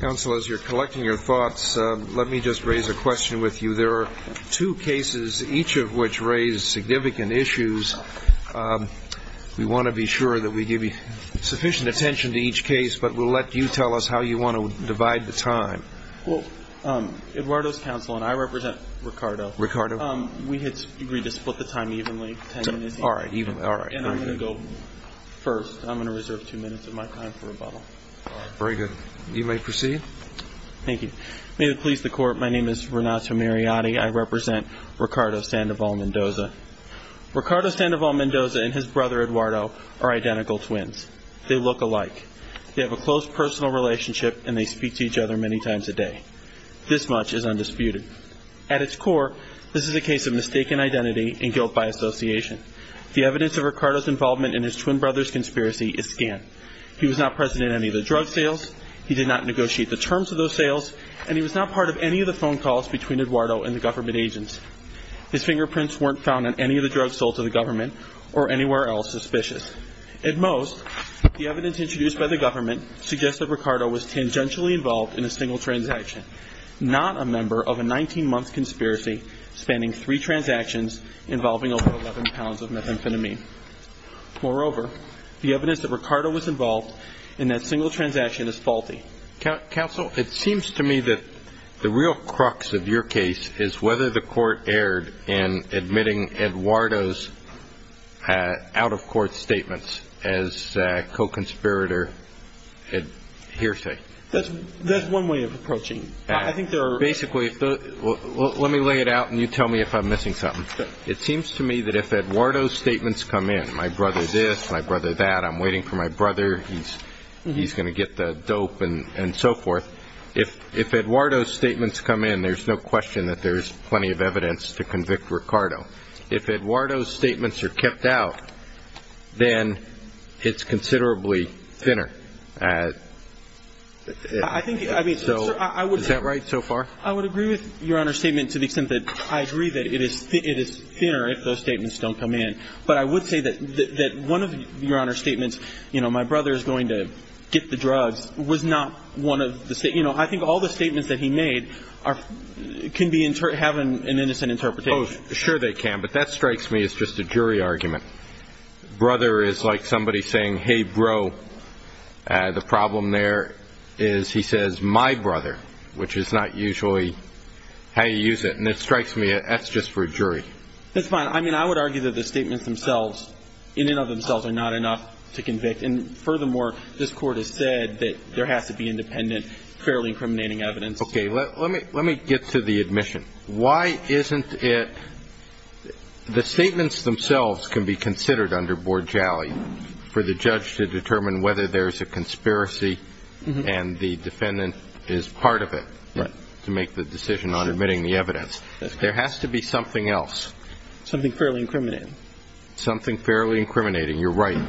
Council, as you're collecting your thoughts, let me just raise a question with you. There are two cases, each of which raise significant issues. We want to be sure that we give you sufficient attention to each case, but we'll let you tell us how you want to divide the time. Well, Eduardo's council and I represent Ricardo. Ricardo. We had agreed to split the time evenly, 10 minutes each. All right, all right. And I'm going to go first. I'm going to reserve two minutes of my time for rebuttal. Very good. You may proceed. Thank you. May it please the court, my name is Renato Mariotti. I represent Ricardo Sandoval-Mendoza. Ricardo Sandoval-Mendoza and his brother Eduardo are identical twins. They look alike. They have a close personal relationship, and they speak to each other many times a day. This much is undisputed. At its core, this is a case of mistaken identity and guilt by association. The evidence of Ricardo's involvement in his twin brother's conspiracy is scant. He was not present at any of the drug sales. He did not negotiate the terms of those sales, and he was not part of any of the phone calls between Eduardo and the government agents. His fingerprints weren't found on any of the drugs sold to the government or anywhere else suspicious. At most, the evidence introduced by the government suggests that Ricardo was tangentially involved in a single transaction, not a member of a 19-month conspiracy spanning three transactions involving over 11 pounds of methamphetamine. Moreover, the evidence that Ricardo was involved in that single transaction is faulty. Counsel, it seems to me that the real crux of your case is whether the court erred in admitting Eduardo's out-of-court statements as co-conspirator hearsay. That's one way of approaching it. Basically, let me lay it out, and you tell me if I'm missing something. It seems to me that if Eduardo's statements come in, my brother this, my brother that, I'm waiting for my brother, he's going to get the dope and so forth. If Eduardo's statements come in, there's no question that there's plenty of evidence to convict Ricardo. If Eduardo's statements are kept out, then it's considerably thinner. Is that right so far? I would agree with Your Honor's statement to the extent that I agree that it is thinner if those statements don't come in. But I would say that one of Your Honor's statements, you know, my brother is going to get the drugs, was not one of the statements. You know, I think all the statements that he made can have an innocent interpretation. Oh, sure they can, but that strikes me as just a jury argument. Brother is like somebody saying, hey, bro. The problem there is he says my brother, which is not usually how you use it. And it strikes me as just for a jury. That's fine. I mean, I would argue that the statements themselves, in and of themselves, are not enough to convict. And furthermore, this Court has said that there has to be independent, fairly incriminating evidence. Okay. Let me get to the admission. Why isn't it the statements themselves can be considered under board jally for the judge to determine whether there is a conspiracy and the defendant is part of it. Right. To make the decision on admitting the evidence. There has to be something else. Something fairly incriminating. Something fairly incriminating. You're right.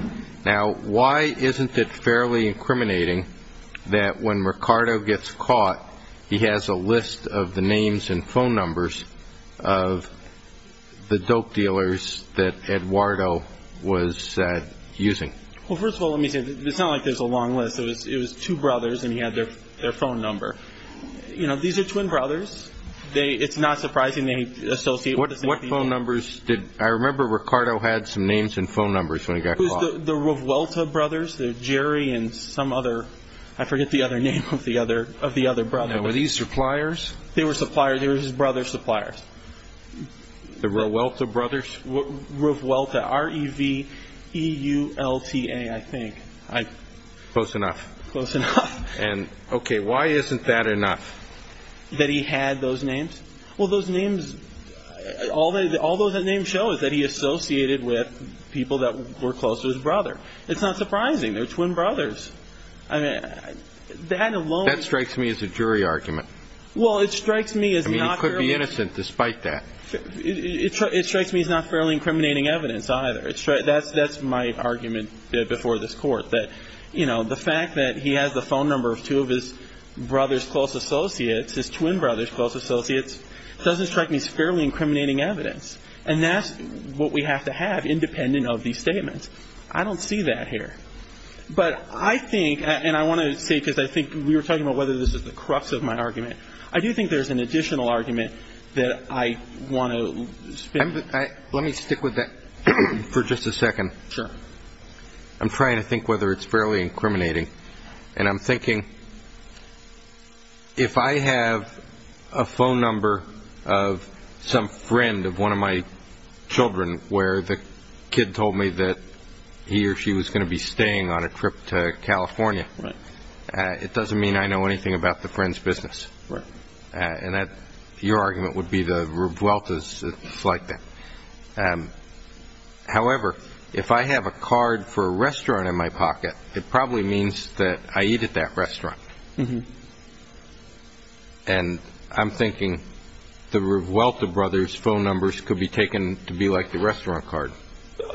Now, why isn't it fairly incriminating that when Ricardo gets caught, he has a list of the names and phone numbers of the dope dealers that Eduardo was using? Well, first of all, let me say this. It's not like there's a long list. It was two brothers, and he had their phone number. You know, these are twin brothers. It's not surprising they associate with the same people. What phone numbers did – I remember Ricardo had some names and phone numbers when he got caught. It was the Revuelta brothers, the Jerry and some other – I forget the other name of the other brother. Now, were these suppliers? They were suppliers. They were his brother's suppliers. The Revuelta brothers? Revuelta, R-E-V-E-U-L-T-A, I think. Close enough. Close enough. And, okay, why isn't that enough? That he had those names? Well, those names – all those names show is that he associated with people that were close to his brother. It's not surprising. They're twin brothers. I mean, that alone – That strikes me as a jury argument. Well, it strikes me as not fairly – I mean, he could be innocent despite that. It strikes me as not fairly incriminating evidence either. That's my argument before this Court, that, you know, the fact that he has the phone number of two of his brother's close associates, his twin brother's close associates, doesn't strike me as fairly incriminating evidence. And that's what we have to have independent of these statements. I don't see that here. But I think – and I want to say because I think we were talking about whether this is the crux of my argument. I do think there's an additional argument that I want to – Let me stick with that for just a second. Sure. I'm trying to think whether it's fairly incriminating. And I'm thinking if I have a phone number of some friend of one of my children where the kid told me that he or she was going to be staying on a trip to California. Right. It doesn't mean I know anything about the friend's business. Right. And your argument would be the Revueltas, it's like that. However, if I have a card for a restaurant in my pocket, it probably means that I eat at that restaurant. Mm-hmm. And I'm thinking the Revuelta brothers' phone numbers could be taken to be like the restaurant card.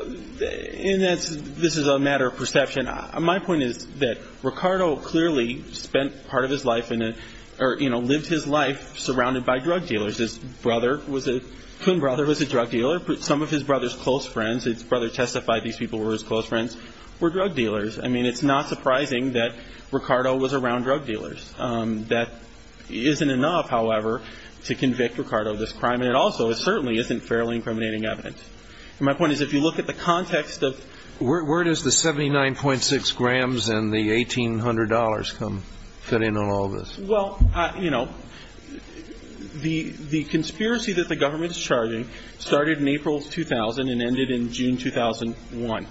And this is a matter of perception. My point is that Ricardo clearly spent part of his life in a – or, you know, lived his life surrounded by drug dealers. His brother was a – twin brother was a drug dealer. Some of his brother's close friends – his brother testified these people were his close friends – were drug dealers. I mean, it's not surprising that Ricardo was around drug dealers. That isn't enough, however, to convict Ricardo of this crime. And it also certainly isn't fairly incriminating evidence. And my point is if you look at the context of – and the $1,800 come – fit in on all this. Well, you know, the conspiracy that the government is charging started in April 2000 and ended in June 2001.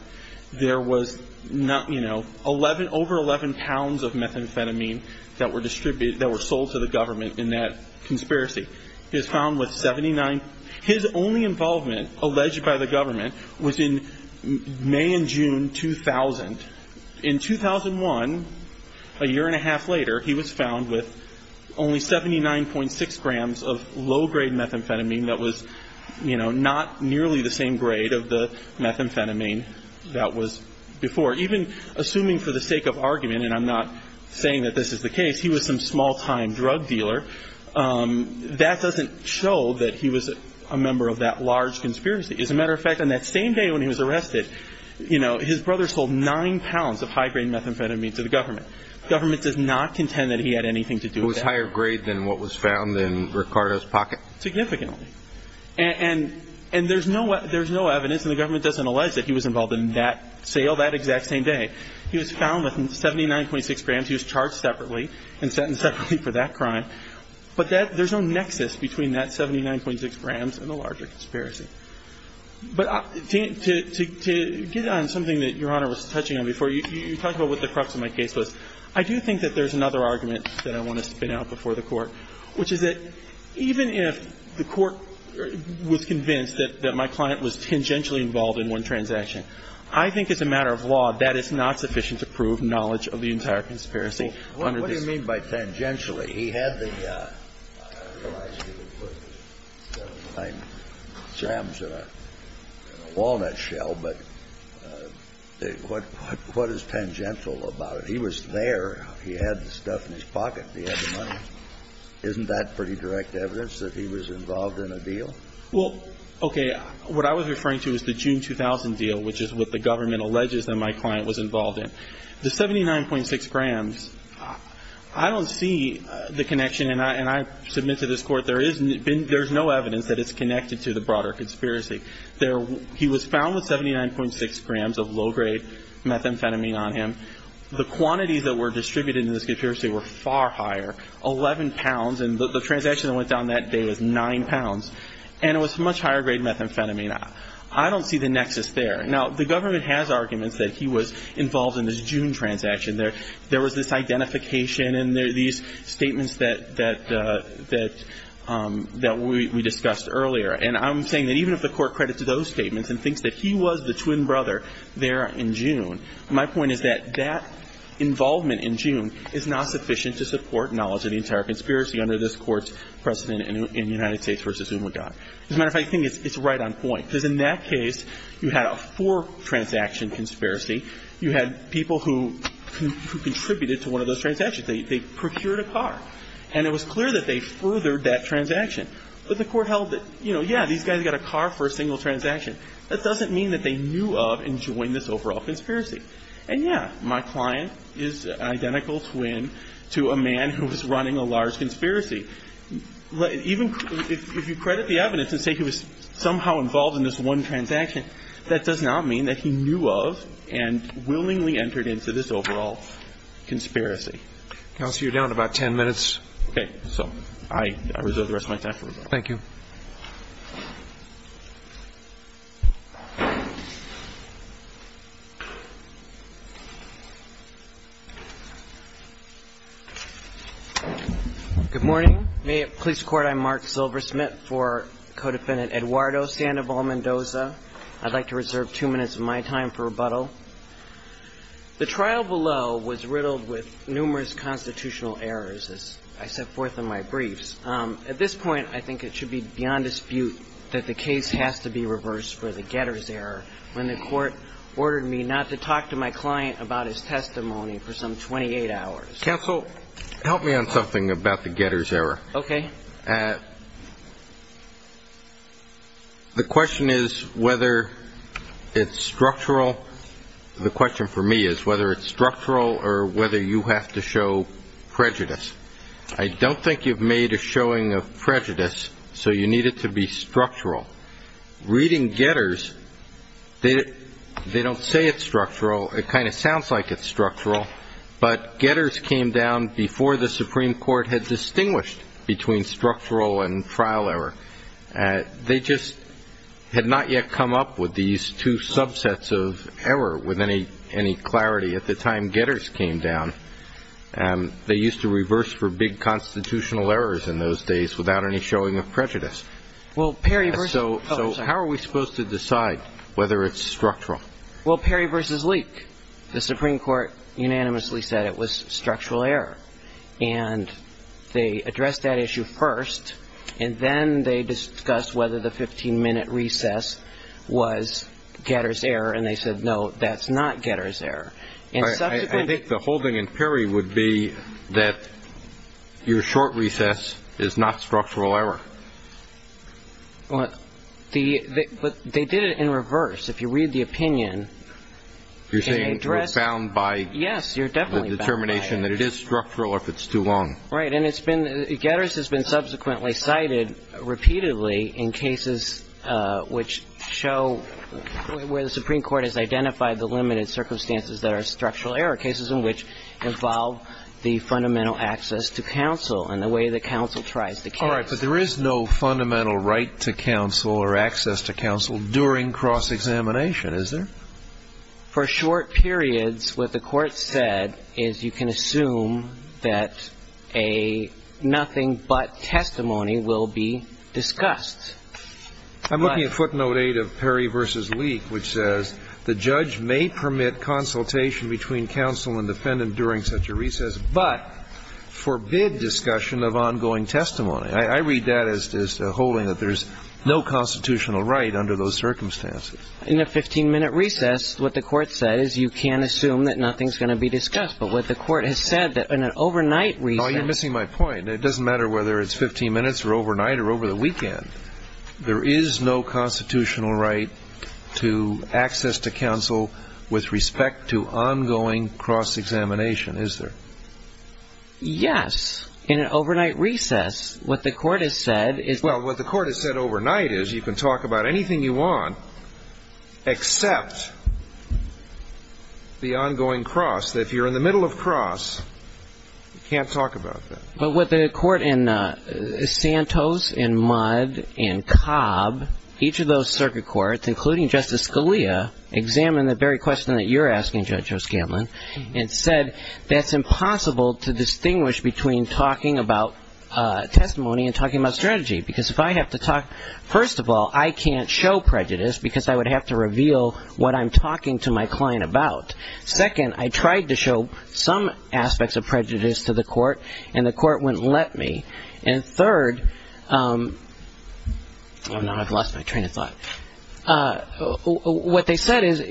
There was, you know, over 11 pounds of methamphetamine that were distributed – that were sold to the government in that conspiracy. He was found with 79 – his only involvement, alleged by the government, was in May and June 2000. In 2001, a year and a half later, he was found with only 79.6 grams of low-grade methamphetamine that was, you know, not nearly the same grade of the methamphetamine that was before. Even assuming for the sake of argument, and I'm not saying that this is the case, he was some small-time drug dealer, that doesn't show that he was a member of that large conspiracy. As a matter of fact, on that same day when he was arrested, you know, his brother sold 9 pounds of high-grade methamphetamine to the government. The government does not contend that he had anything to do with that. It was higher grade than what was found in Ricardo's pocket? Significantly. And there's no evidence, and the government doesn't allege that he was involved in that sale that exact same day. He was found with 79.6 grams. He was charged separately and sentenced separately for that crime. But there's no nexus between that 79.6 grams and the larger conspiracy. But to get on something that Your Honor was touching on before, you talked about what the crux of my case was. I do think that there's another argument that I want to spin out before the Court, which is that even if the Court was convinced that my client was tangentially involved in one transaction, I think as a matter of law, that is not sufficient to prove knowledge of the entire conspiracy. What do you mean by tangentially? He had the, I realize you would put 79 grams in a walnut shell, but what is tangential about it? He was there. He had the stuff in his pocket. He had the money. Isn't that pretty direct evidence that he was involved in a deal? Well, okay, what I was referring to is the June 2000 deal, which is what the government alleges that my client was involved in. The 79.6 grams, I don't see the connection, and I submit to this Court, there's no evidence that it's connected to the broader conspiracy. He was found with 79.6 grams of low-grade methamphetamine on him. The quantities that were distributed in this conspiracy were far higher, 11 pounds, and the transaction that went down that day was 9 pounds, and it was much higher-grade methamphetamine. I don't see the nexus there. Now, the government has arguments that he was involved in this June transaction. There was this identification and these statements that we discussed earlier, and I'm saying that even if the Court credits those statements and thinks that he was the twin brother there in June, my point is that that involvement in June is not sufficient to support knowledge of the entire conspiracy under this Court's precedent in United States v. Umagaw. As a matter of fact, I think it's right on point, because in that case, you had a four-transaction conspiracy. You had people who contributed to one of those transactions. They procured a car, and it was clear that they furthered that transaction. But the Court held that, you know, yeah, these guys got a car for a single transaction. That doesn't mean that they knew of and joined this overall conspiracy. And, yeah, my client is an identical twin to a man who was running a large conspiracy. Even if you credit the evidence and say he was somehow involved in this one transaction, that does not mean that he knew of and willingly entered into this overall conspiracy. Counsel, you're down about 10 minutes. Okay. So I reserve the rest of my time for rebuttal. Thank you. Good morning. May it please the Court, I'm Mark Silversmith for co-defendant Eduardo Sandoval Mendoza. I'd like to reserve two minutes of my time for rebuttal. The trial below was riddled with numerous constitutional errors, as I set forth in my briefs. At this point, I think it should be beyond dispute that the case has to be reversed for the Getter's error when the Court ordered me not to talk to my client about his testimony for some 28 hours. Counsel, help me on something about the Getter's error. Okay. The question is whether it's structural. The question for me is whether it's structural or whether you have to show prejudice. I don't think you've made a showing of prejudice, so you need it to be structural. Reading Getter's, they don't say it's structural. It kind of sounds like it's structural. But Getter's came down before the Supreme Court had distinguished between structural and trial error. They just had not yet come up with these two subsets of error with any clarity at the time Getter's came down. They used to reverse for big constitutional errors in those days without any showing of prejudice. So how are we supposed to decide whether it's structural? Well, Perry v. Leak, the Supreme Court unanimously said it was structural error. And they addressed that issue first, and then they discussed whether the 15-minute recess was Getter's error, and they said, no, that's not Getter's error. I think the holding in Perry would be that your short recess is not structural error. But they did it in reverse. If you read the opinion and address it. You're saying you're bound by the determination that it is structural or if it's too long. Right, and Getter's has been subsequently cited repeatedly in cases which show where the Supreme Court has identified the limited circumstances that are structural error, cases in which involve the fundamental access to counsel and the way the counsel tries to counsel. All right, but there is no fundamental right to counsel or access to counsel during cross-examination, is there? For short periods, what the Court said is you can assume that a nothing-but testimony will be discussed. I'm looking at footnote 8 of Perry v. Leak, which says, the judge may permit consultation between counsel and defendant during such a recess, but forbid discussion of ongoing testimony. I read that as holding that there's no constitutional right under those circumstances. In a 15-minute recess, what the Court said is you can assume that nothing's going to be discussed. But what the Court has said that in an overnight recess. Oh, you're missing my point. It doesn't matter whether it's 15 minutes or overnight or over the weekend. There is no constitutional right to access to counsel with respect to ongoing cross-examination, is there? Yes. In an overnight recess, what the Court has said is... Well, what the Court has said overnight is you can talk about anything you want, except the ongoing cross, that if you're in the middle of cross, you can't talk about that. But what the Court in Santos and Mudd and Cobb, each of those circuit courts, including Justice Scalia, examined the very question that you're asking, Judge Joe Scanlon, and said that's impossible to distinguish between talking about testimony and talking about strategy. Because if I have to talk... First of all, I can't show prejudice because I would have to reveal what I'm talking to my client about. Second, I tried to show some aspects of prejudice to the Court, and the Court wouldn't let me. And third... Oh, now I've lost my train of thought. What they said is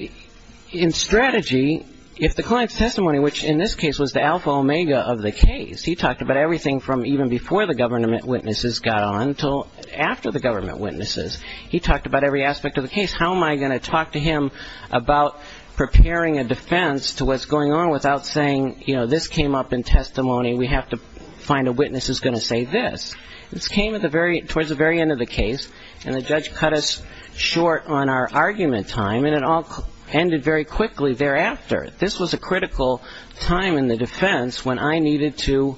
in strategy, if the client's testimony, which in this case was the alpha omega of the case, he talked about everything from even before the government witnesses got on until after the government witnesses. He talked about every aspect of the case. How am I going to talk to him about preparing a defense to what's going on without saying, you know, this came up in testimony. We have to find a witness who's going to say this. This came towards the very end of the case, and the judge cut us short on our argument time, and it all ended very quickly thereafter. This was a critical time in the defense when I needed to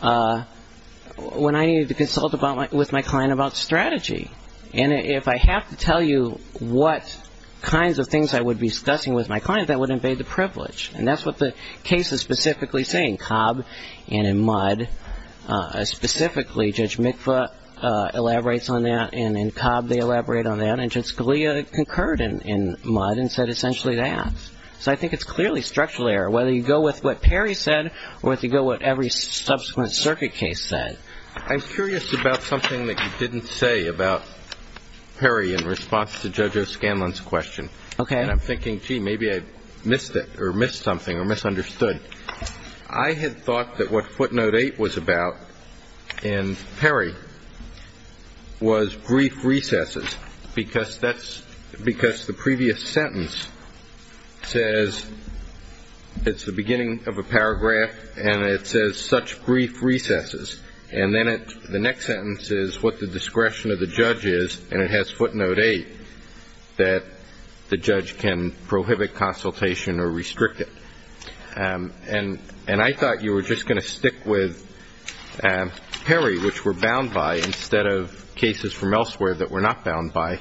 consult with my client about strategy. And if I have to tell you what kinds of things I would be discussing with my client, that would invade the privilege. And that's what the case is specifically saying, Cobb and in Mudd. Specifically, Judge Mikva elaborates on that, and in Cobb they elaborate on that, and Judge Scalia concurred in Mudd and said essentially that. So I think it's clearly structural error, whether you go with what Perry said or whether you go with what every subsequent circuit case said. I'm curious about something that you didn't say about Perry in response to Judge O'Scanlan's question. Okay. And I'm thinking, gee, maybe I missed it or missed something or misunderstood. I had thought that what footnote 8 was about in Perry was brief recesses because the previous sentence says it's the beginning of a paragraph, and it says such brief recesses. And then the next sentence is what the discretion of the judge is, and it has footnote 8 that the judge can prohibit consultation or restrict it. And I thought you were just going to stick with Perry, which we're bound by instead of cases from elsewhere that we're not bound by,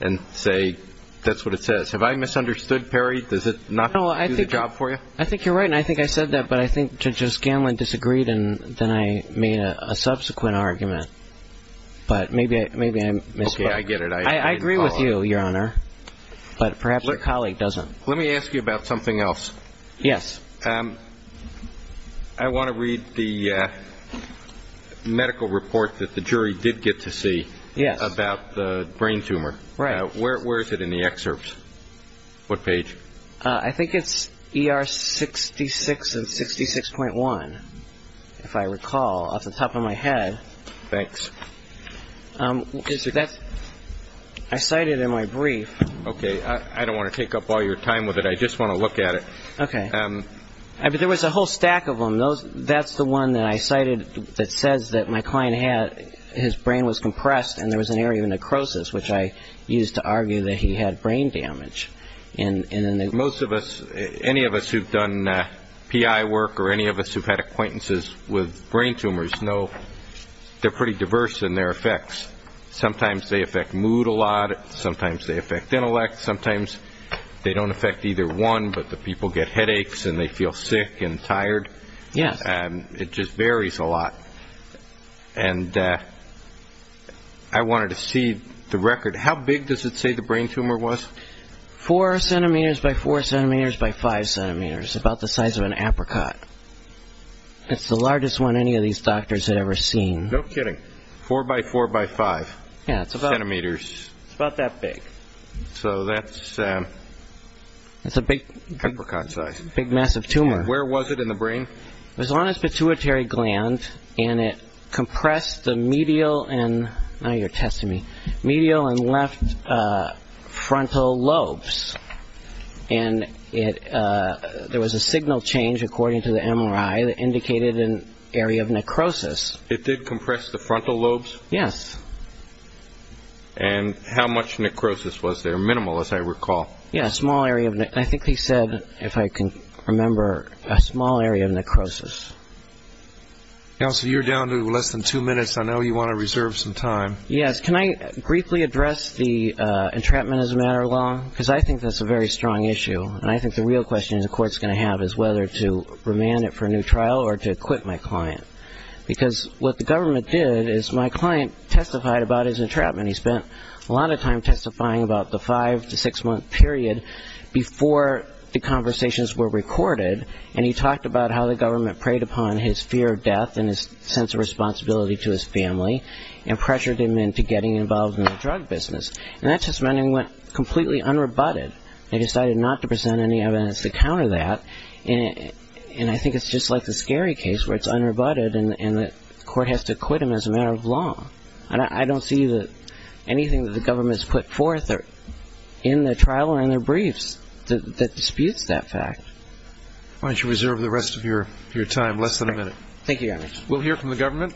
and say that's what it says. Have I misunderstood Perry? Does it not do the job for you? I think you're right, and I think I said that, but I think Judge O'Scanlan disagreed and then I made a subsequent argument. But maybe I missed it. Okay. I get it. I agree with you, Your Honor, but perhaps your colleague doesn't. Let me ask you about something else. Yes. I want to read the medical report that the jury did get to see about the brain tumor. Right. Where is it in the excerpts? What page? Thanks. I cited it in my brief. Okay. I don't want to take up all your time with it. I just want to look at it. Okay. There was a whole stack of them. That's the one that I cited that says that my client had his brain was compressed and there was an area of necrosis, which I used to argue that he had brain damage. Most of us, any of us who've done PI work or any of us who've had acquaintances with brain tumors know they're pretty diverse in their effects. Sometimes they affect mood a lot. Sometimes they affect intellect. Sometimes they don't affect either one, but the people get headaches and they feel sick and tired. Yes. It just varies a lot. And I wanted to see the record. How big does it say the brain tumor was? Four centimeters by four centimeters by five centimeters, about the size of an apricot. It's the largest one any of these doctors had ever seen. No kidding. Four by four by five centimeters. It's about that big. So that's a big apricot size. Big, massive tumor. And where was it in the brain? It was on a pituitary gland, and it compressed the medial and left frontal lobes. And there was a signal change, according to the MRI, that indicated an area of necrosis. It did compress the frontal lobes? Yes. And how much necrosis was there? Minimal, as I recall. Yes, a small area. I think he said, if I can remember, a small area of necrosis. Counsel, you're down to less than two minutes. I know you want to reserve some time. Yes. Can I briefly address the entrapment as a matter of law? Because I think that's a very strong issue. And I think the real question the court's going to have is whether to remand it for a new trial or to acquit my client. Because what the government did is my client testified about his entrapment. And he spent a lot of time testifying about the five- to six-month period before the conversations were recorded. And he talked about how the government preyed upon his fear of death and his sense of responsibility to his family and pressured him into getting involved in the drug business. And that just meant he went completely unrebutted. They decided not to present any evidence to counter that. And I think it's just like the scary case where it's unrebutted and the court has to acquit him as a matter of law. And I don't see that anything that the government has put forth in their trial or in their briefs that disputes that fact. Why don't you reserve the rest of your time, less than a minute. Thank you, Your Honor. We'll hear from the government.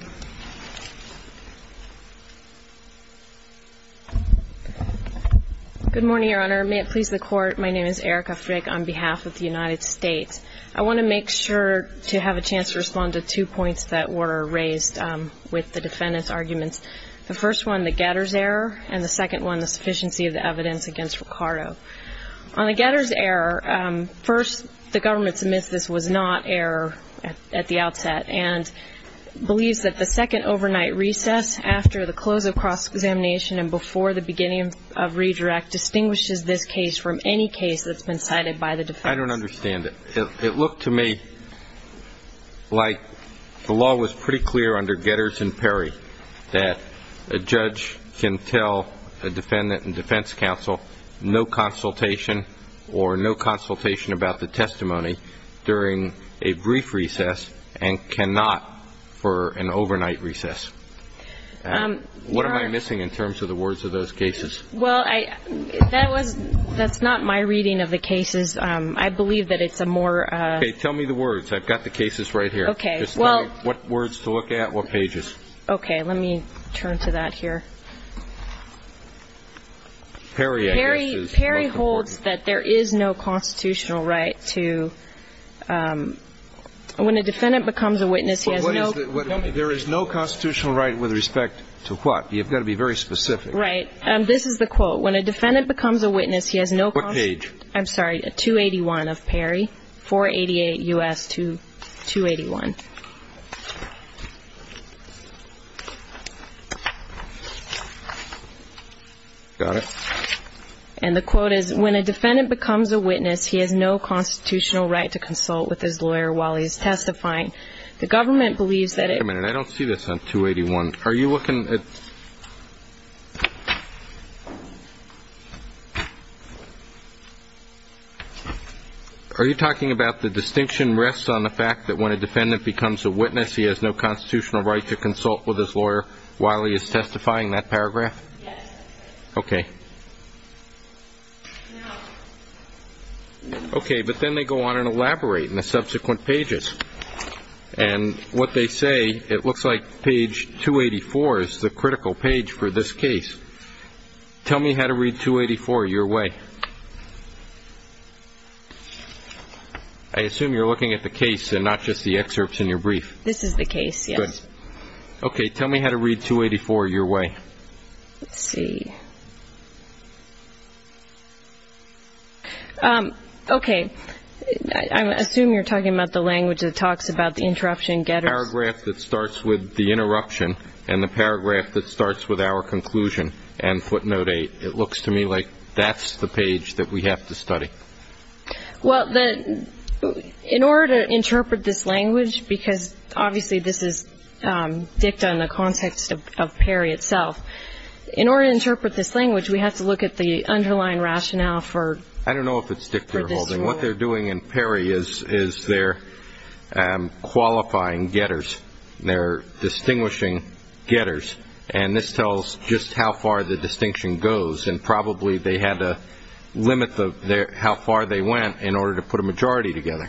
Good morning, Your Honor. May it please the Court, my name is Erica Frick on behalf of the United States. I want to make sure to have a chance to respond to two points that were raised with the defendant's arguments. The first one, the getter's error, and the second one, the sufficiency of the evidence against Ricardo. On the getter's error, first, the government submits this was not error at the outset and believes that the second overnight recess after the close of cross-examination and before the beginning of redirect distinguishes this case from any case that's been cited by the defense. I don't understand it. It looked to me like the law was pretty clear under Getters and Perry that a judge can tell a defendant and defense counsel no consultation or no consultation about the testimony during a brief recess and cannot for an overnight recess. What am I missing in terms of the words of those cases? Well, that's not my reading of the cases. I believe that it's a more- Okay, tell me the words. I've got the cases right here. Okay, well- Just tell me what words to look at, what pages. Okay, let me turn to that here. Perry, I guess, is- Perry holds that there is no constitutional right to- when a defendant becomes a witness, he has no- There is no constitutional right with respect to what? You've got to be very specific. Right. This is the quote. When a defendant becomes a witness, he has no- What page? I'm sorry, 281 of Perry, 488 U.S. 281. Got it. And the quote is, When a defendant becomes a witness, he has no constitutional right to consult with his lawyer while he is testifying. The government believes that- Wait a minute, I don't see this on 281. Are you looking at- Are you talking about the distinction rests on the fact that when a defendant becomes a witness, he has no constitutional right to consult with his lawyer while he is testifying, that paragraph? Yes. Okay. Okay, but then they go on and elaborate in the subsequent pages. And what they say, it looks like page 284 is the critical page for this case. Tell me how to read 284 your way. I assume you're looking at the case and not just the excerpts in your brief. This is the case, yes. Good. Okay, tell me how to read 284 your way. Let's see. Okay, I assume you're talking about the language that talks about the interruption and getters. The paragraph that starts with the interruption and the paragraph that starts with our conclusion and footnote 8, it looks to me like that's the page that we have to study. Well, in order to interpret this language, because obviously this is dicta in the context of Perry itself, in order to interpret this language, we have to look at the underlying rationale for this rule. I don't know if it's dicta or holding. What they're doing in Perry is they're qualifying getters. They're distinguishing getters. And this tells just how far the distinction goes, and probably they had to limit how far they went in order to put a majority together.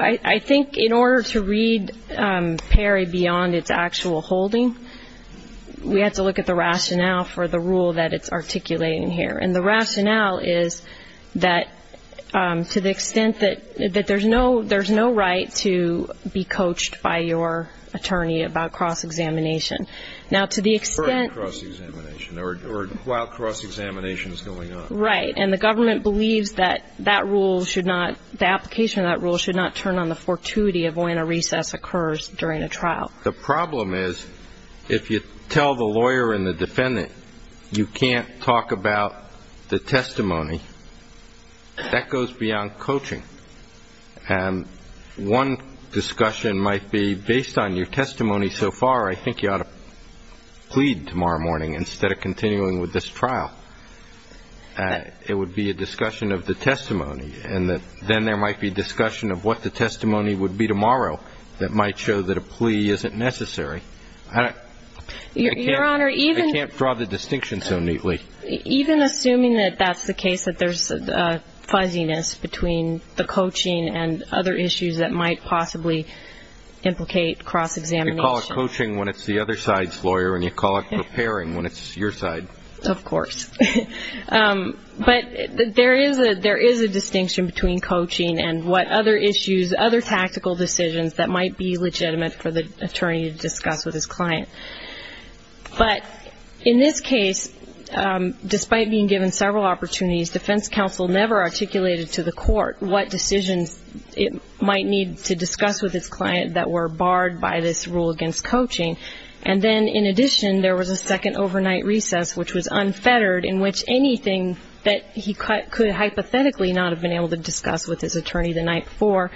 I think in order to read Perry beyond its actual holding, we have to look at the rationale for the rule that it's articulating here. And the rationale is that to the extent that there's no right to be coached by your attorney about cross-examination. Now, to the extent of cross-examination or while cross-examination is going on. Right, and the government believes that that rule should not, the application of that rule should not turn on the fortuity of when a recess occurs during a trial. The problem is if you tell the lawyer and the defendant you can't talk about the testimony, that goes beyond coaching. And one discussion might be based on your testimony so far, I think you ought to plead tomorrow morning instead of continuing with this trial. It would be a discussion of the testimony, and then there might be discussion of what the testimony would be tomorrow that might show that a plea isn't necessary. I can't draw the distinction so neatly. Even assuming that that's the case, that there's a fuzziness between the coaching and other issues that might possibly implicate cross-examination. You call it coaching when it's the other side's lawyer, and you call it preparing when it's your side. Of course. But there is a distinction between coaching and what other issues, other tactical decisions that might be legitimate for the attorney to discuss with his client. But in this case, despite being given several opportunities, defense counsel never articulated to the court what decisions it might need to discuss with its client that were barred by this rule against coaching. And then, in addition, there was a second overnight recess which was unfettered, in which anything that he could hypothetically not have been able to discuss with his attorney the night before,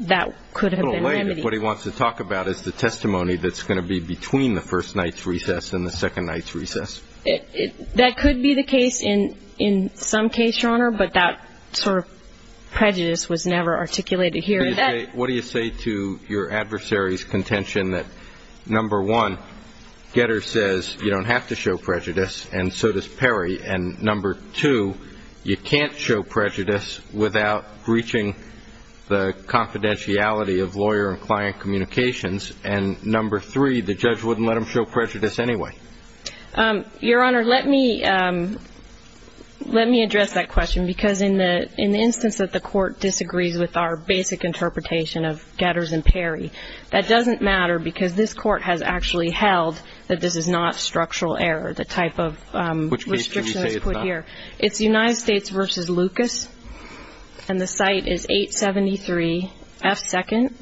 that could have been remedied. What he wants to talk about is the testimony that's going to be between the first night's recess and the second night's recess. That could be the case in some case, Your Honor, but that sort of prejudice was never articulated here. What do you say to your adversary's contention that, number one, Getter says you don't have to show prejudice, and so does Perry, and, number two, you can't show prejudice without breaching the confidentiality of lawyer and client communications, and, number three, the judge wouldn't let him show prejudice anyway? Your Honor, let me address that question, because in the instance that the court disagrees with our basic interpretation of Getters and Perry, that doesn't matter because this court has actually held that this is not structural error, the type of restriction that's put here. Which case can you say it's not? It's United States v. Lucas, and the site is 873 F. 2nd.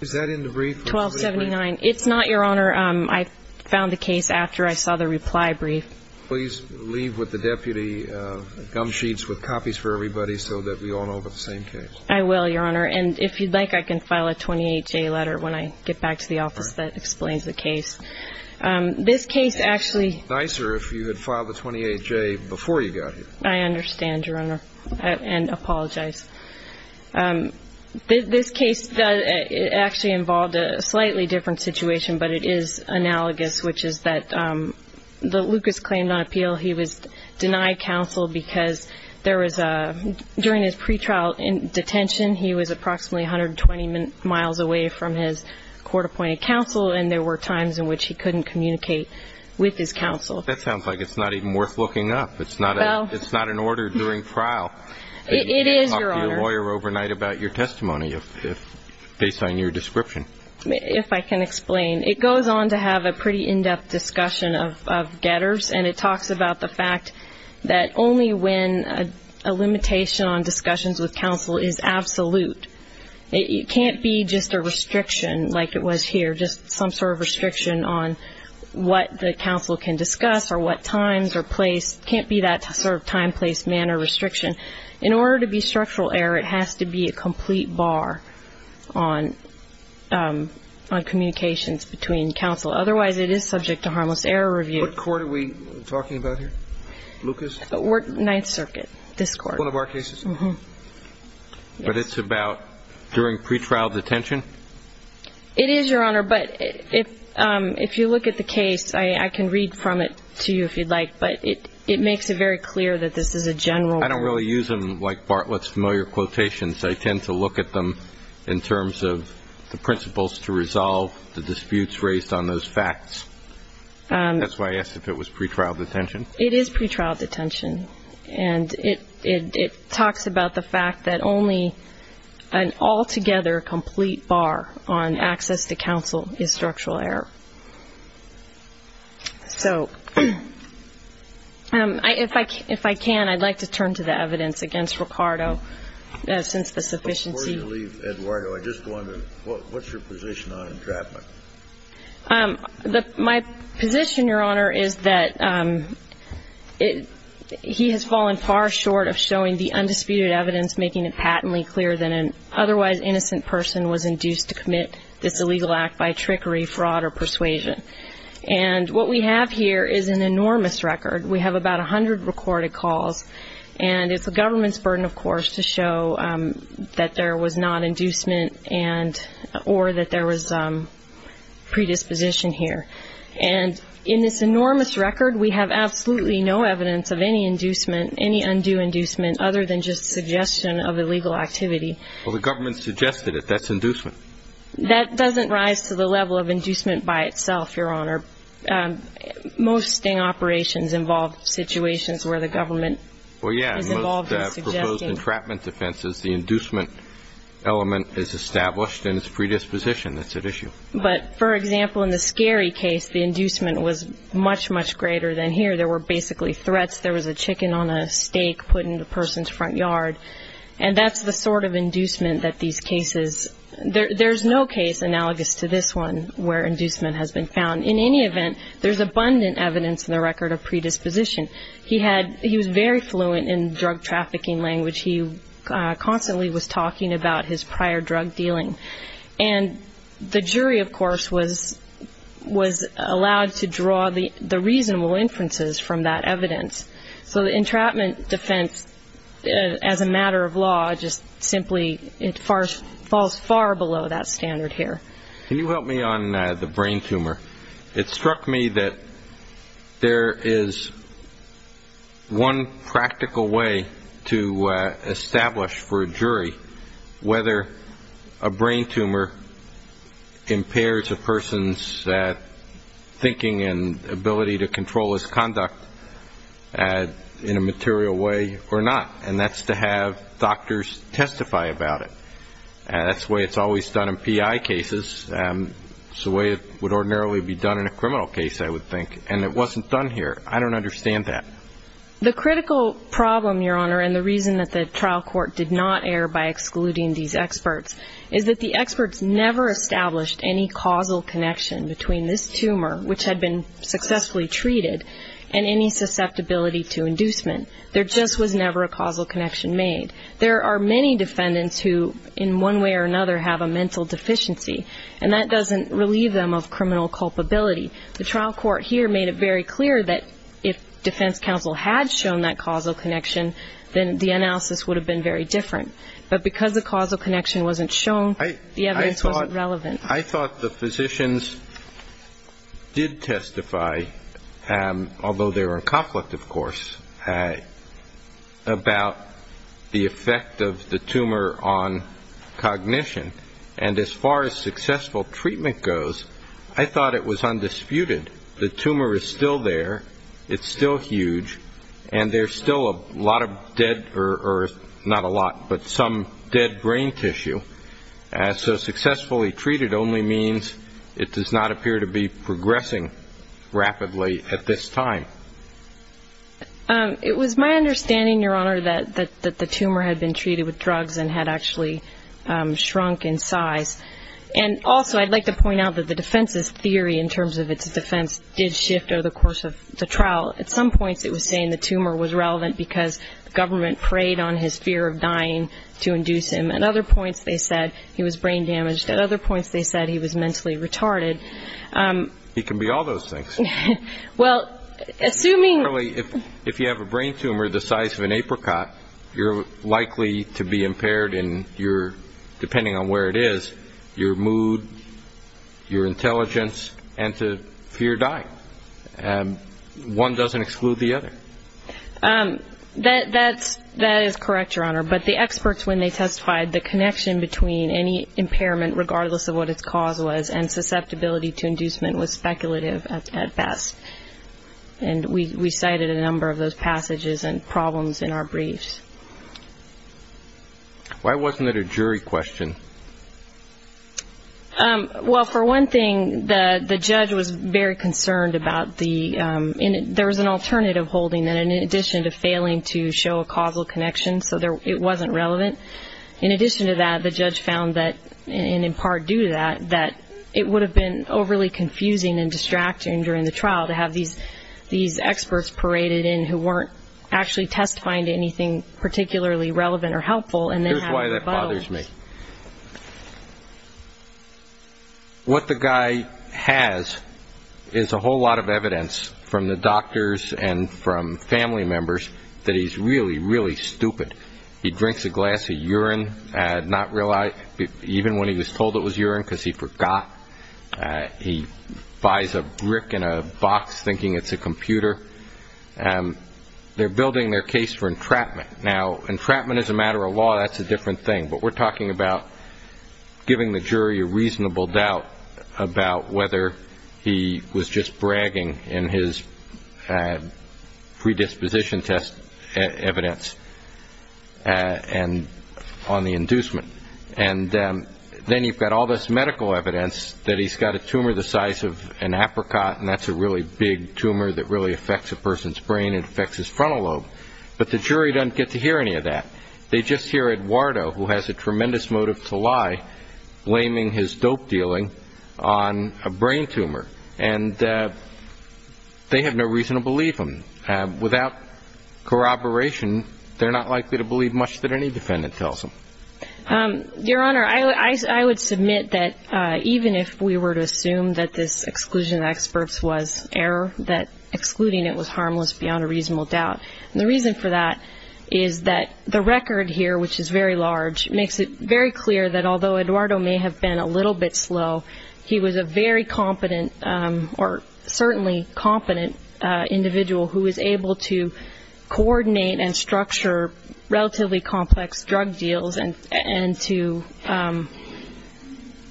Is that in the brief? 1279. It's not, Your Honor. I found the case after I saw the reply brief. Please leave with the deputy gum sheets with copies for everybody so that we all know about the same case. I will, Your Honor. And if you'd like, I can file a 28-J letter when I get back to the office that explains the case. This case actually ñ It would be nicer if you had filed a 28-J before you got here. I understand, Your Honor, and apologize. This case actually involved a slightly different situation, but it is analogous, which is that Lucas claimed on appeal he was denied counsel because there was a ñ during his pretrial detention, he was approximately 120 miles away from his court-appointed counsel, and there were times in which he couldn't communicate with his counsel. That sounds like it's not even worth looking up. It's not an order during trial. It is, Your Honor. You can't talk to your lawyer overnight about your testimony based on your description. If I can explain. It goes on to have a pretty in-depth discussion of getters, and it talks about the fact that only when a limitation on discussions with counsel is absolute. It can't be just a restriction like it was here, just some sort of restriction on what the counsel can discuss or what times or place. It can't be that sort of time, place, manner restriction. In order to be structural error, it has to be a complete bar on communications between counsel. Otherwise, it is subject to harmless error review. What court are we talking about here? Lucas? Ninth Circuit, this court. One of our cases? Yes. But it's about during pretrial detention? It is, Your Honor, but if you look at the case, I can read from it to you if you'd like, but it makes it very clear that this is a general rule. I don't really use them like Bartlett's familiar quotations. I tend to look at them in terms of the principles to resolve the disputes raised on those facts. That's why I asked if it was pretrial detention. It is pretrial detention, and it talks about the fact that only an altogether complete bar on access to counsel is structural error. So if I can, I'd like to turn to the evidence against Ricardo since the sufficiency. Before you leave, Eduardo, I just wondered, what's your position on entrapment? My position, Your Honor, is that he has fallen far short of showing the undisputed evidence, making it patently clear that an otherwise innocent person was induced to commit this illegal act by trickery, fraud, or persuasion. And what we have here is an enormous record. We have about 100 recorded calls, and it's the government's burden, of course, to show that there was not inducement or that there was predisposition here. And in this enormous record, we have absolutely no evidence of any inducement, other than just suggestion of illegal activity. Well, the government suggested it. That's inducement. That doesn't rise to the level of inducement by itself, Your Honor. Most sting operations involve situations where the government is involved in suggesting. Well, yeah, in most proposed entrapment defenses, the inducement element is established and is predisposition. That's at issue. But, for example, in the Scarry case, the inducement was much, much greater than here. There were basically threats. There was a chicken on a stake put in the person's front yard. And that's the sort of inducement that these cases ñ there's no case analogous to this one where inducement has been found. In any event, there's abundant evidence in the record of predisposition. He was very fluent in drug trafficking language. He constantly was talking about his prior drug dealing. And the jury, of course, was allowed to draw the reasonable inferences from that evidence. So the entrapment defense, as a matter of law, just simply falls far below that standard here. Can you help me on the brain tumor? It struck me that there is one practical way to establish for a jury whether a brain tumor impairs a person's thinking and ability to control his conduct in a material way or not, and that's to have doctors testify about it. That's the way it's always done in PI cases. It's the way it would ordinarily be done in a criminal case, I would think. And it wasn't done here. I don't understand that. The critical problem, Your Honor, and the reason that the trial court did not err by excluding these experts is that the experts never established any causal connection between this tumor, which had been successfully treated, and any susceptibility to inducement. There just was never a causal connection made. There are many defendants who, in one way or another, have a mental deficiency, and that doesn't relieve them of criminal culpability. The trial court here made it very clear that if defense counsel had shown that causal connection, then the analysis would have been very different. But because the causal connection wasn't shown, the evidence wasn't relevant. I thought the physicians did testify, although they were in conflict, of course, about the effect of the tumor on cognition. And as far as successful treatment goes, I thought it was undisputed. The tumor is still there. It's still huge. And there's still a lot of dead, or not a lot, but some dead brain tissue. So successfully treated only means it does not appear to be progressing rapidly at this time. It was my understanding, Your Honor, that the tumor had been treated with drugs and had actually shrunk in size. And also I'd like to point out that the defense's theory, in terms of its defense, did shift over the course of the trial. At some points it was saying the tumor was relevant because the government preyed on his fear of dying to induce him. At other points they said he was brain damaged. At other points they said he was mentally retarded. It can be all those things. Well, assuming... If you have a brain tumor the size of an apricot, you're likely to be impaired in your, depending on where it is, your mood, your intelligence, and to fear dying. One doesn't exclude the other. That is correct, Your Honor, but the experts, when they testified, the connection between any impairment, regardless of what its cause was, and susceptibility to inducement was speculative at best. And we cited a number of those passages and problems in our briefs. Why wasn't it a jury question? Well, for one thing, the judge was very concerned about the... There was an alternative holding that in addition to failing to show a causal connection, so it wasn't relevant. In addition to that, the judge found that, and in part due to that, that it would have been overly confusing and distracting during the trial to have these experts paraded in who weren't actually testifying to anything particularly relevant or helpful and then having rebuttals. Here's why that bothers me. What the guy has is a whole lot of evidence from the doctors and from family members that he's really, really stupid. He drinks a glass of urine even when he was told it was urine because he forgot. He buys a brick in a box thinking it's a computer. They're building their case for entrapment. Now, entrapment as a matter of law, that's a different thing, but we're talking about giving the jury a reasonable doubt about whether he was just bragging in his predisposition test evidence on the inducement. And then you've got all this medical evidence that he's got a tumor the size of an apricot, and that's a really big tumor that really affects a person's brain and affects his frontal lobe. But the jury doesn't get to hear any of that. They just hear Eduardo, who has a tremendous motive to lie, blaming his dope dealing on a brain tumor. And they have no reason to believe him. Without corroboration, they're not likely to believe much that any defendant tells them. Your Honor, I would submit that even if we were to assume that this exclusion of experts was error, that excluding it was harmless beyond a reasonable doubt. And the reason for that is that the record here, which is very large, makes it very clear that although Eduardo may have been a little bit slow, he was a very competent or certainly competent individual who was able to coordinate and structure relatively complex drug deals and to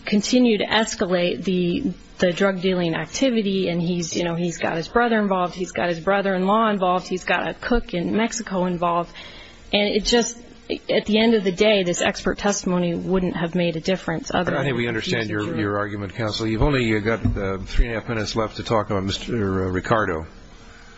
continue to escalate the drug dealing activity. And he's got his brother involved. He's got his brother-in-law involved. He's got a cook in Mexico involved. And it just at the end of the day, this expert testimony wouldn't have made a difference. I think we understand your argument, counsel. You've only got three and a half minutes left to talk about Mr. Ricardo.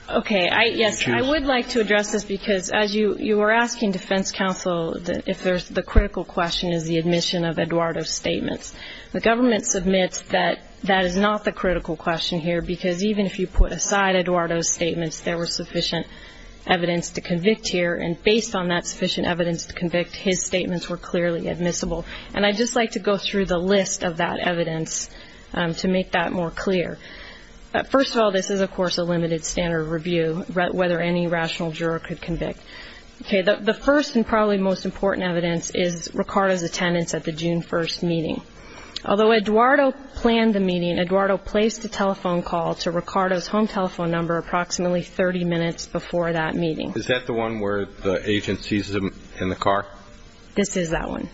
Okay. Yes, I would like to address this because as you were asking defense counsel if the critical question is the admission of Eduardo's statements, the government submits that that is not the critical question here because even if you put aside Eduardo's statements, there was sufficient evidence to convict here. And based on that sufficient evidence to convict, his statements were clearly admissible. And I'd just like to go through the list of that evidence to make that more clear. First of all, this is, of course, a limited standard review, whether any rational juror could convict. Okay. The first and probably most important evidence is Ricardo's attendance at the June 1st meeting. Although Eduardo planned the meeting, Eduardo placed a telephone call to Ricardo's home telephone number approximately 30 minutes before that meeting. Is that the one where the agent sees him in the car? This is that one.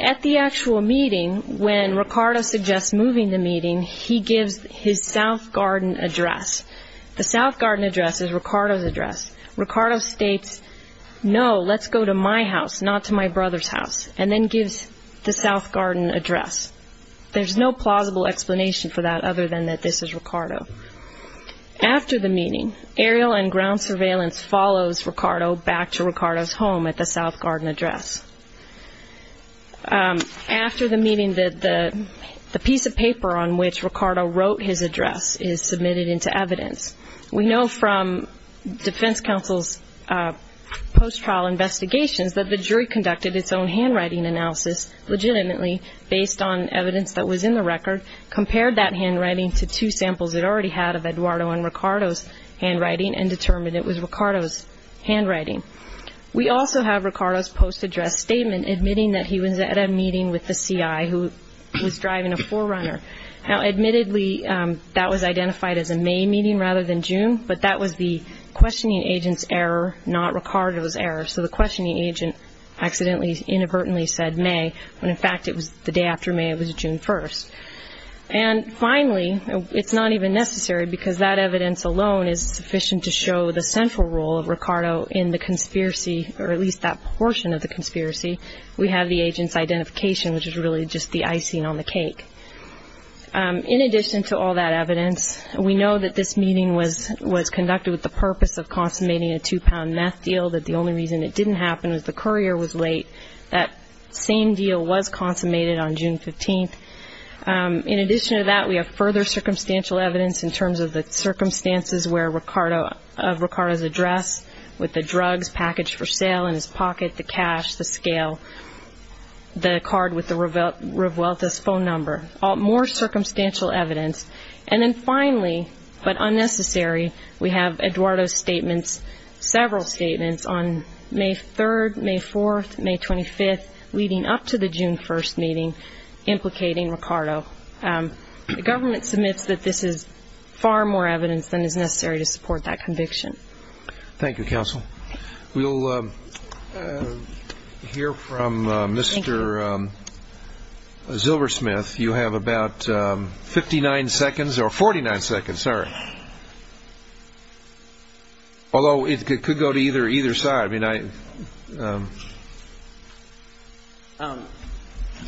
At the actual meeting, when Ricardo suggests moving the meeting, he gives his South Garden address. The South Garden address is Ricardo's address. Ricardo states, no, let's go to my house, not to my brother's house, and then gives the South Garden address. There's no plausible explanation for that other than that this is Ricardo. After the meeting, aerial and ground surveillance follows Ricardo back to Ricardo's home at the South Garden address. After the meeting, the piece of paper on which Ricardo wrote his address is submitted into evidence. We know from defense counsel's post-trial investigations that the jury conducted its own handwriting analysis legitimately based on evidence that was in the record, compared that handwriting to two samples it already had of Eduardo and Ricardo's handwriting, and determined it was Ricardo's handwriting. We also have Ricardo's post-address statement admitting that he was at a meeting with the CI who was driving a 4Runner. Now, admittedly, that was identified as a May meeting rather than June, but that was the questioning agent's error, not Ricardo's error. So the questioning agent accidentally, inadvertently said May, when in fact it was the day after May. It was June 1st. And finally, it's not even necessary because that evidence alone is sufficient to show the central role of Ricardo in the conspiracy, or at least that portion of the conspiracy. We have the agent's identification, which is really just the icing on the cake. In addition to all that evidence, we know that this meeting was conducted with the purpose of consummating a two-pound meth deal, that the only reason it didn't happen was the courier was late. That same deal was consummated on June 15th. In addition to that, we have further circumstantial evidence in terms of the circumstances of Ricardo's address with the drugs packaged for sale in his pocket, the cash, the scale, the card with the Revuelta's phone number, more circumstantial evidence. And then finally, but unnecessary, we have Eduardo's statements, several statements on May 3rd, May 4th, May 25th, leading up to the June 1st meeting implicating Ricardo. The government submits that this is far more evidence than is necessary to support that conviction. Thank you, Counsel. We'll hear from Mr. Zilbersmith. You have about 59 seconds, or 49 seconds, sorry, although it could go to either side. You have about a minute to speak, if you would, Mr. Zilbersmith. I'm going to be notifying you every night.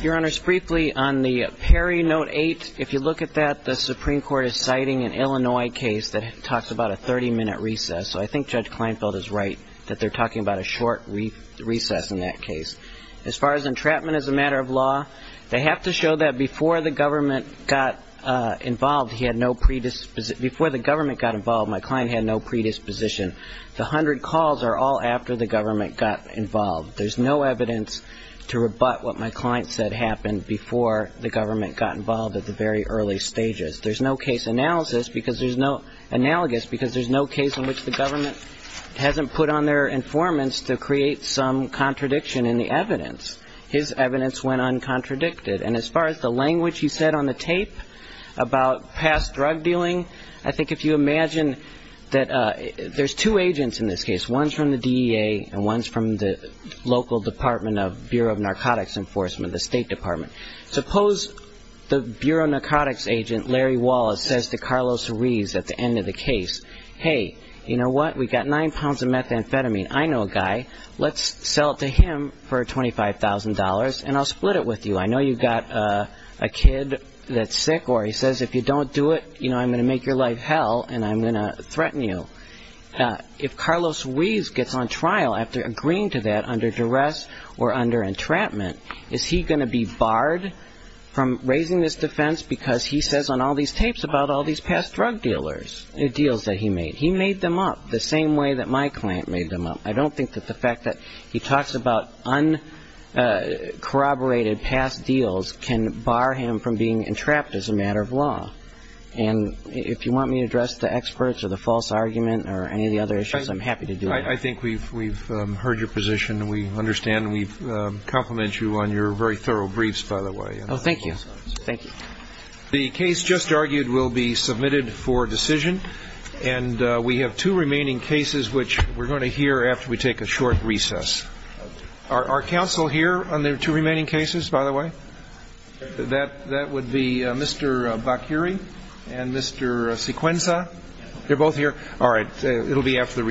Your Honor, just briefly, on the Perry Note Eight, if you look at that, the Supreme Court is citing an Illinois case that talks about a 30-minute recess. So I think Judge Kleinfeld is right that they're talking about a short recess in that case. As far as entrapment as a matter of law, they have to show that before the government got involved, he had no predisposition – before the government got involved, my client had no predisposition. The hundred calls are all after the government got involved. There's no evidence to rebut what my client said happened before the government got involved at the very early stages. There's no case analysis because there's no – analogous, because there's no case in which the government hasn't put on their informants to create some contradiction in the evidence. His evidence went uncontradicted. And as far as the language he said on the tape about past drug dealing, I think if you imagine that there's two agents in this case, one's from the DEA and one's from the local department of Bureau of Narcotics Enforcement, the State Department. Suppose the Bureau of Narcotics agent, Larry Wallace, says to Carlos Ruiz at the end of the case, hey, you know what, we've got nine pounds of methamphetamine. I know a guy. Let's sell it to him for $25,000 and I'll split it with you. I know you've got a kid that's sick or he says if you don't do it, you know, I'm going to make your life hell and I'm going to threaten you. If Carlos Ruiz gets on trial after agreeing to that under duress or under entrapment, is he going to be barred from raising this defense because he says on all these tapes about all these past drug dealers, deals that he made? He made them up the same way that my client made them up. I don't think that the fact that he talks about uncorroborated past deals can bar him from being entrapped as a matter of law. And if you want me to address the experts or the false argument or any of the other issues, I'm happy to do that. I think we've heard your position. We understand and we compliment you on your very thorough briefs, by the way. Oh, thank you. Thank you. The case just argued will be submitted for decision. And we have two remaining cases, which we're going to hear after we take a short recess. Our counsel here on the two remaining cases, by the way, that would be Mr. Bakuri and Mr. Sequenza. They're both here. All right. It'll be after the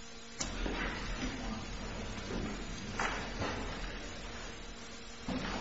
recess.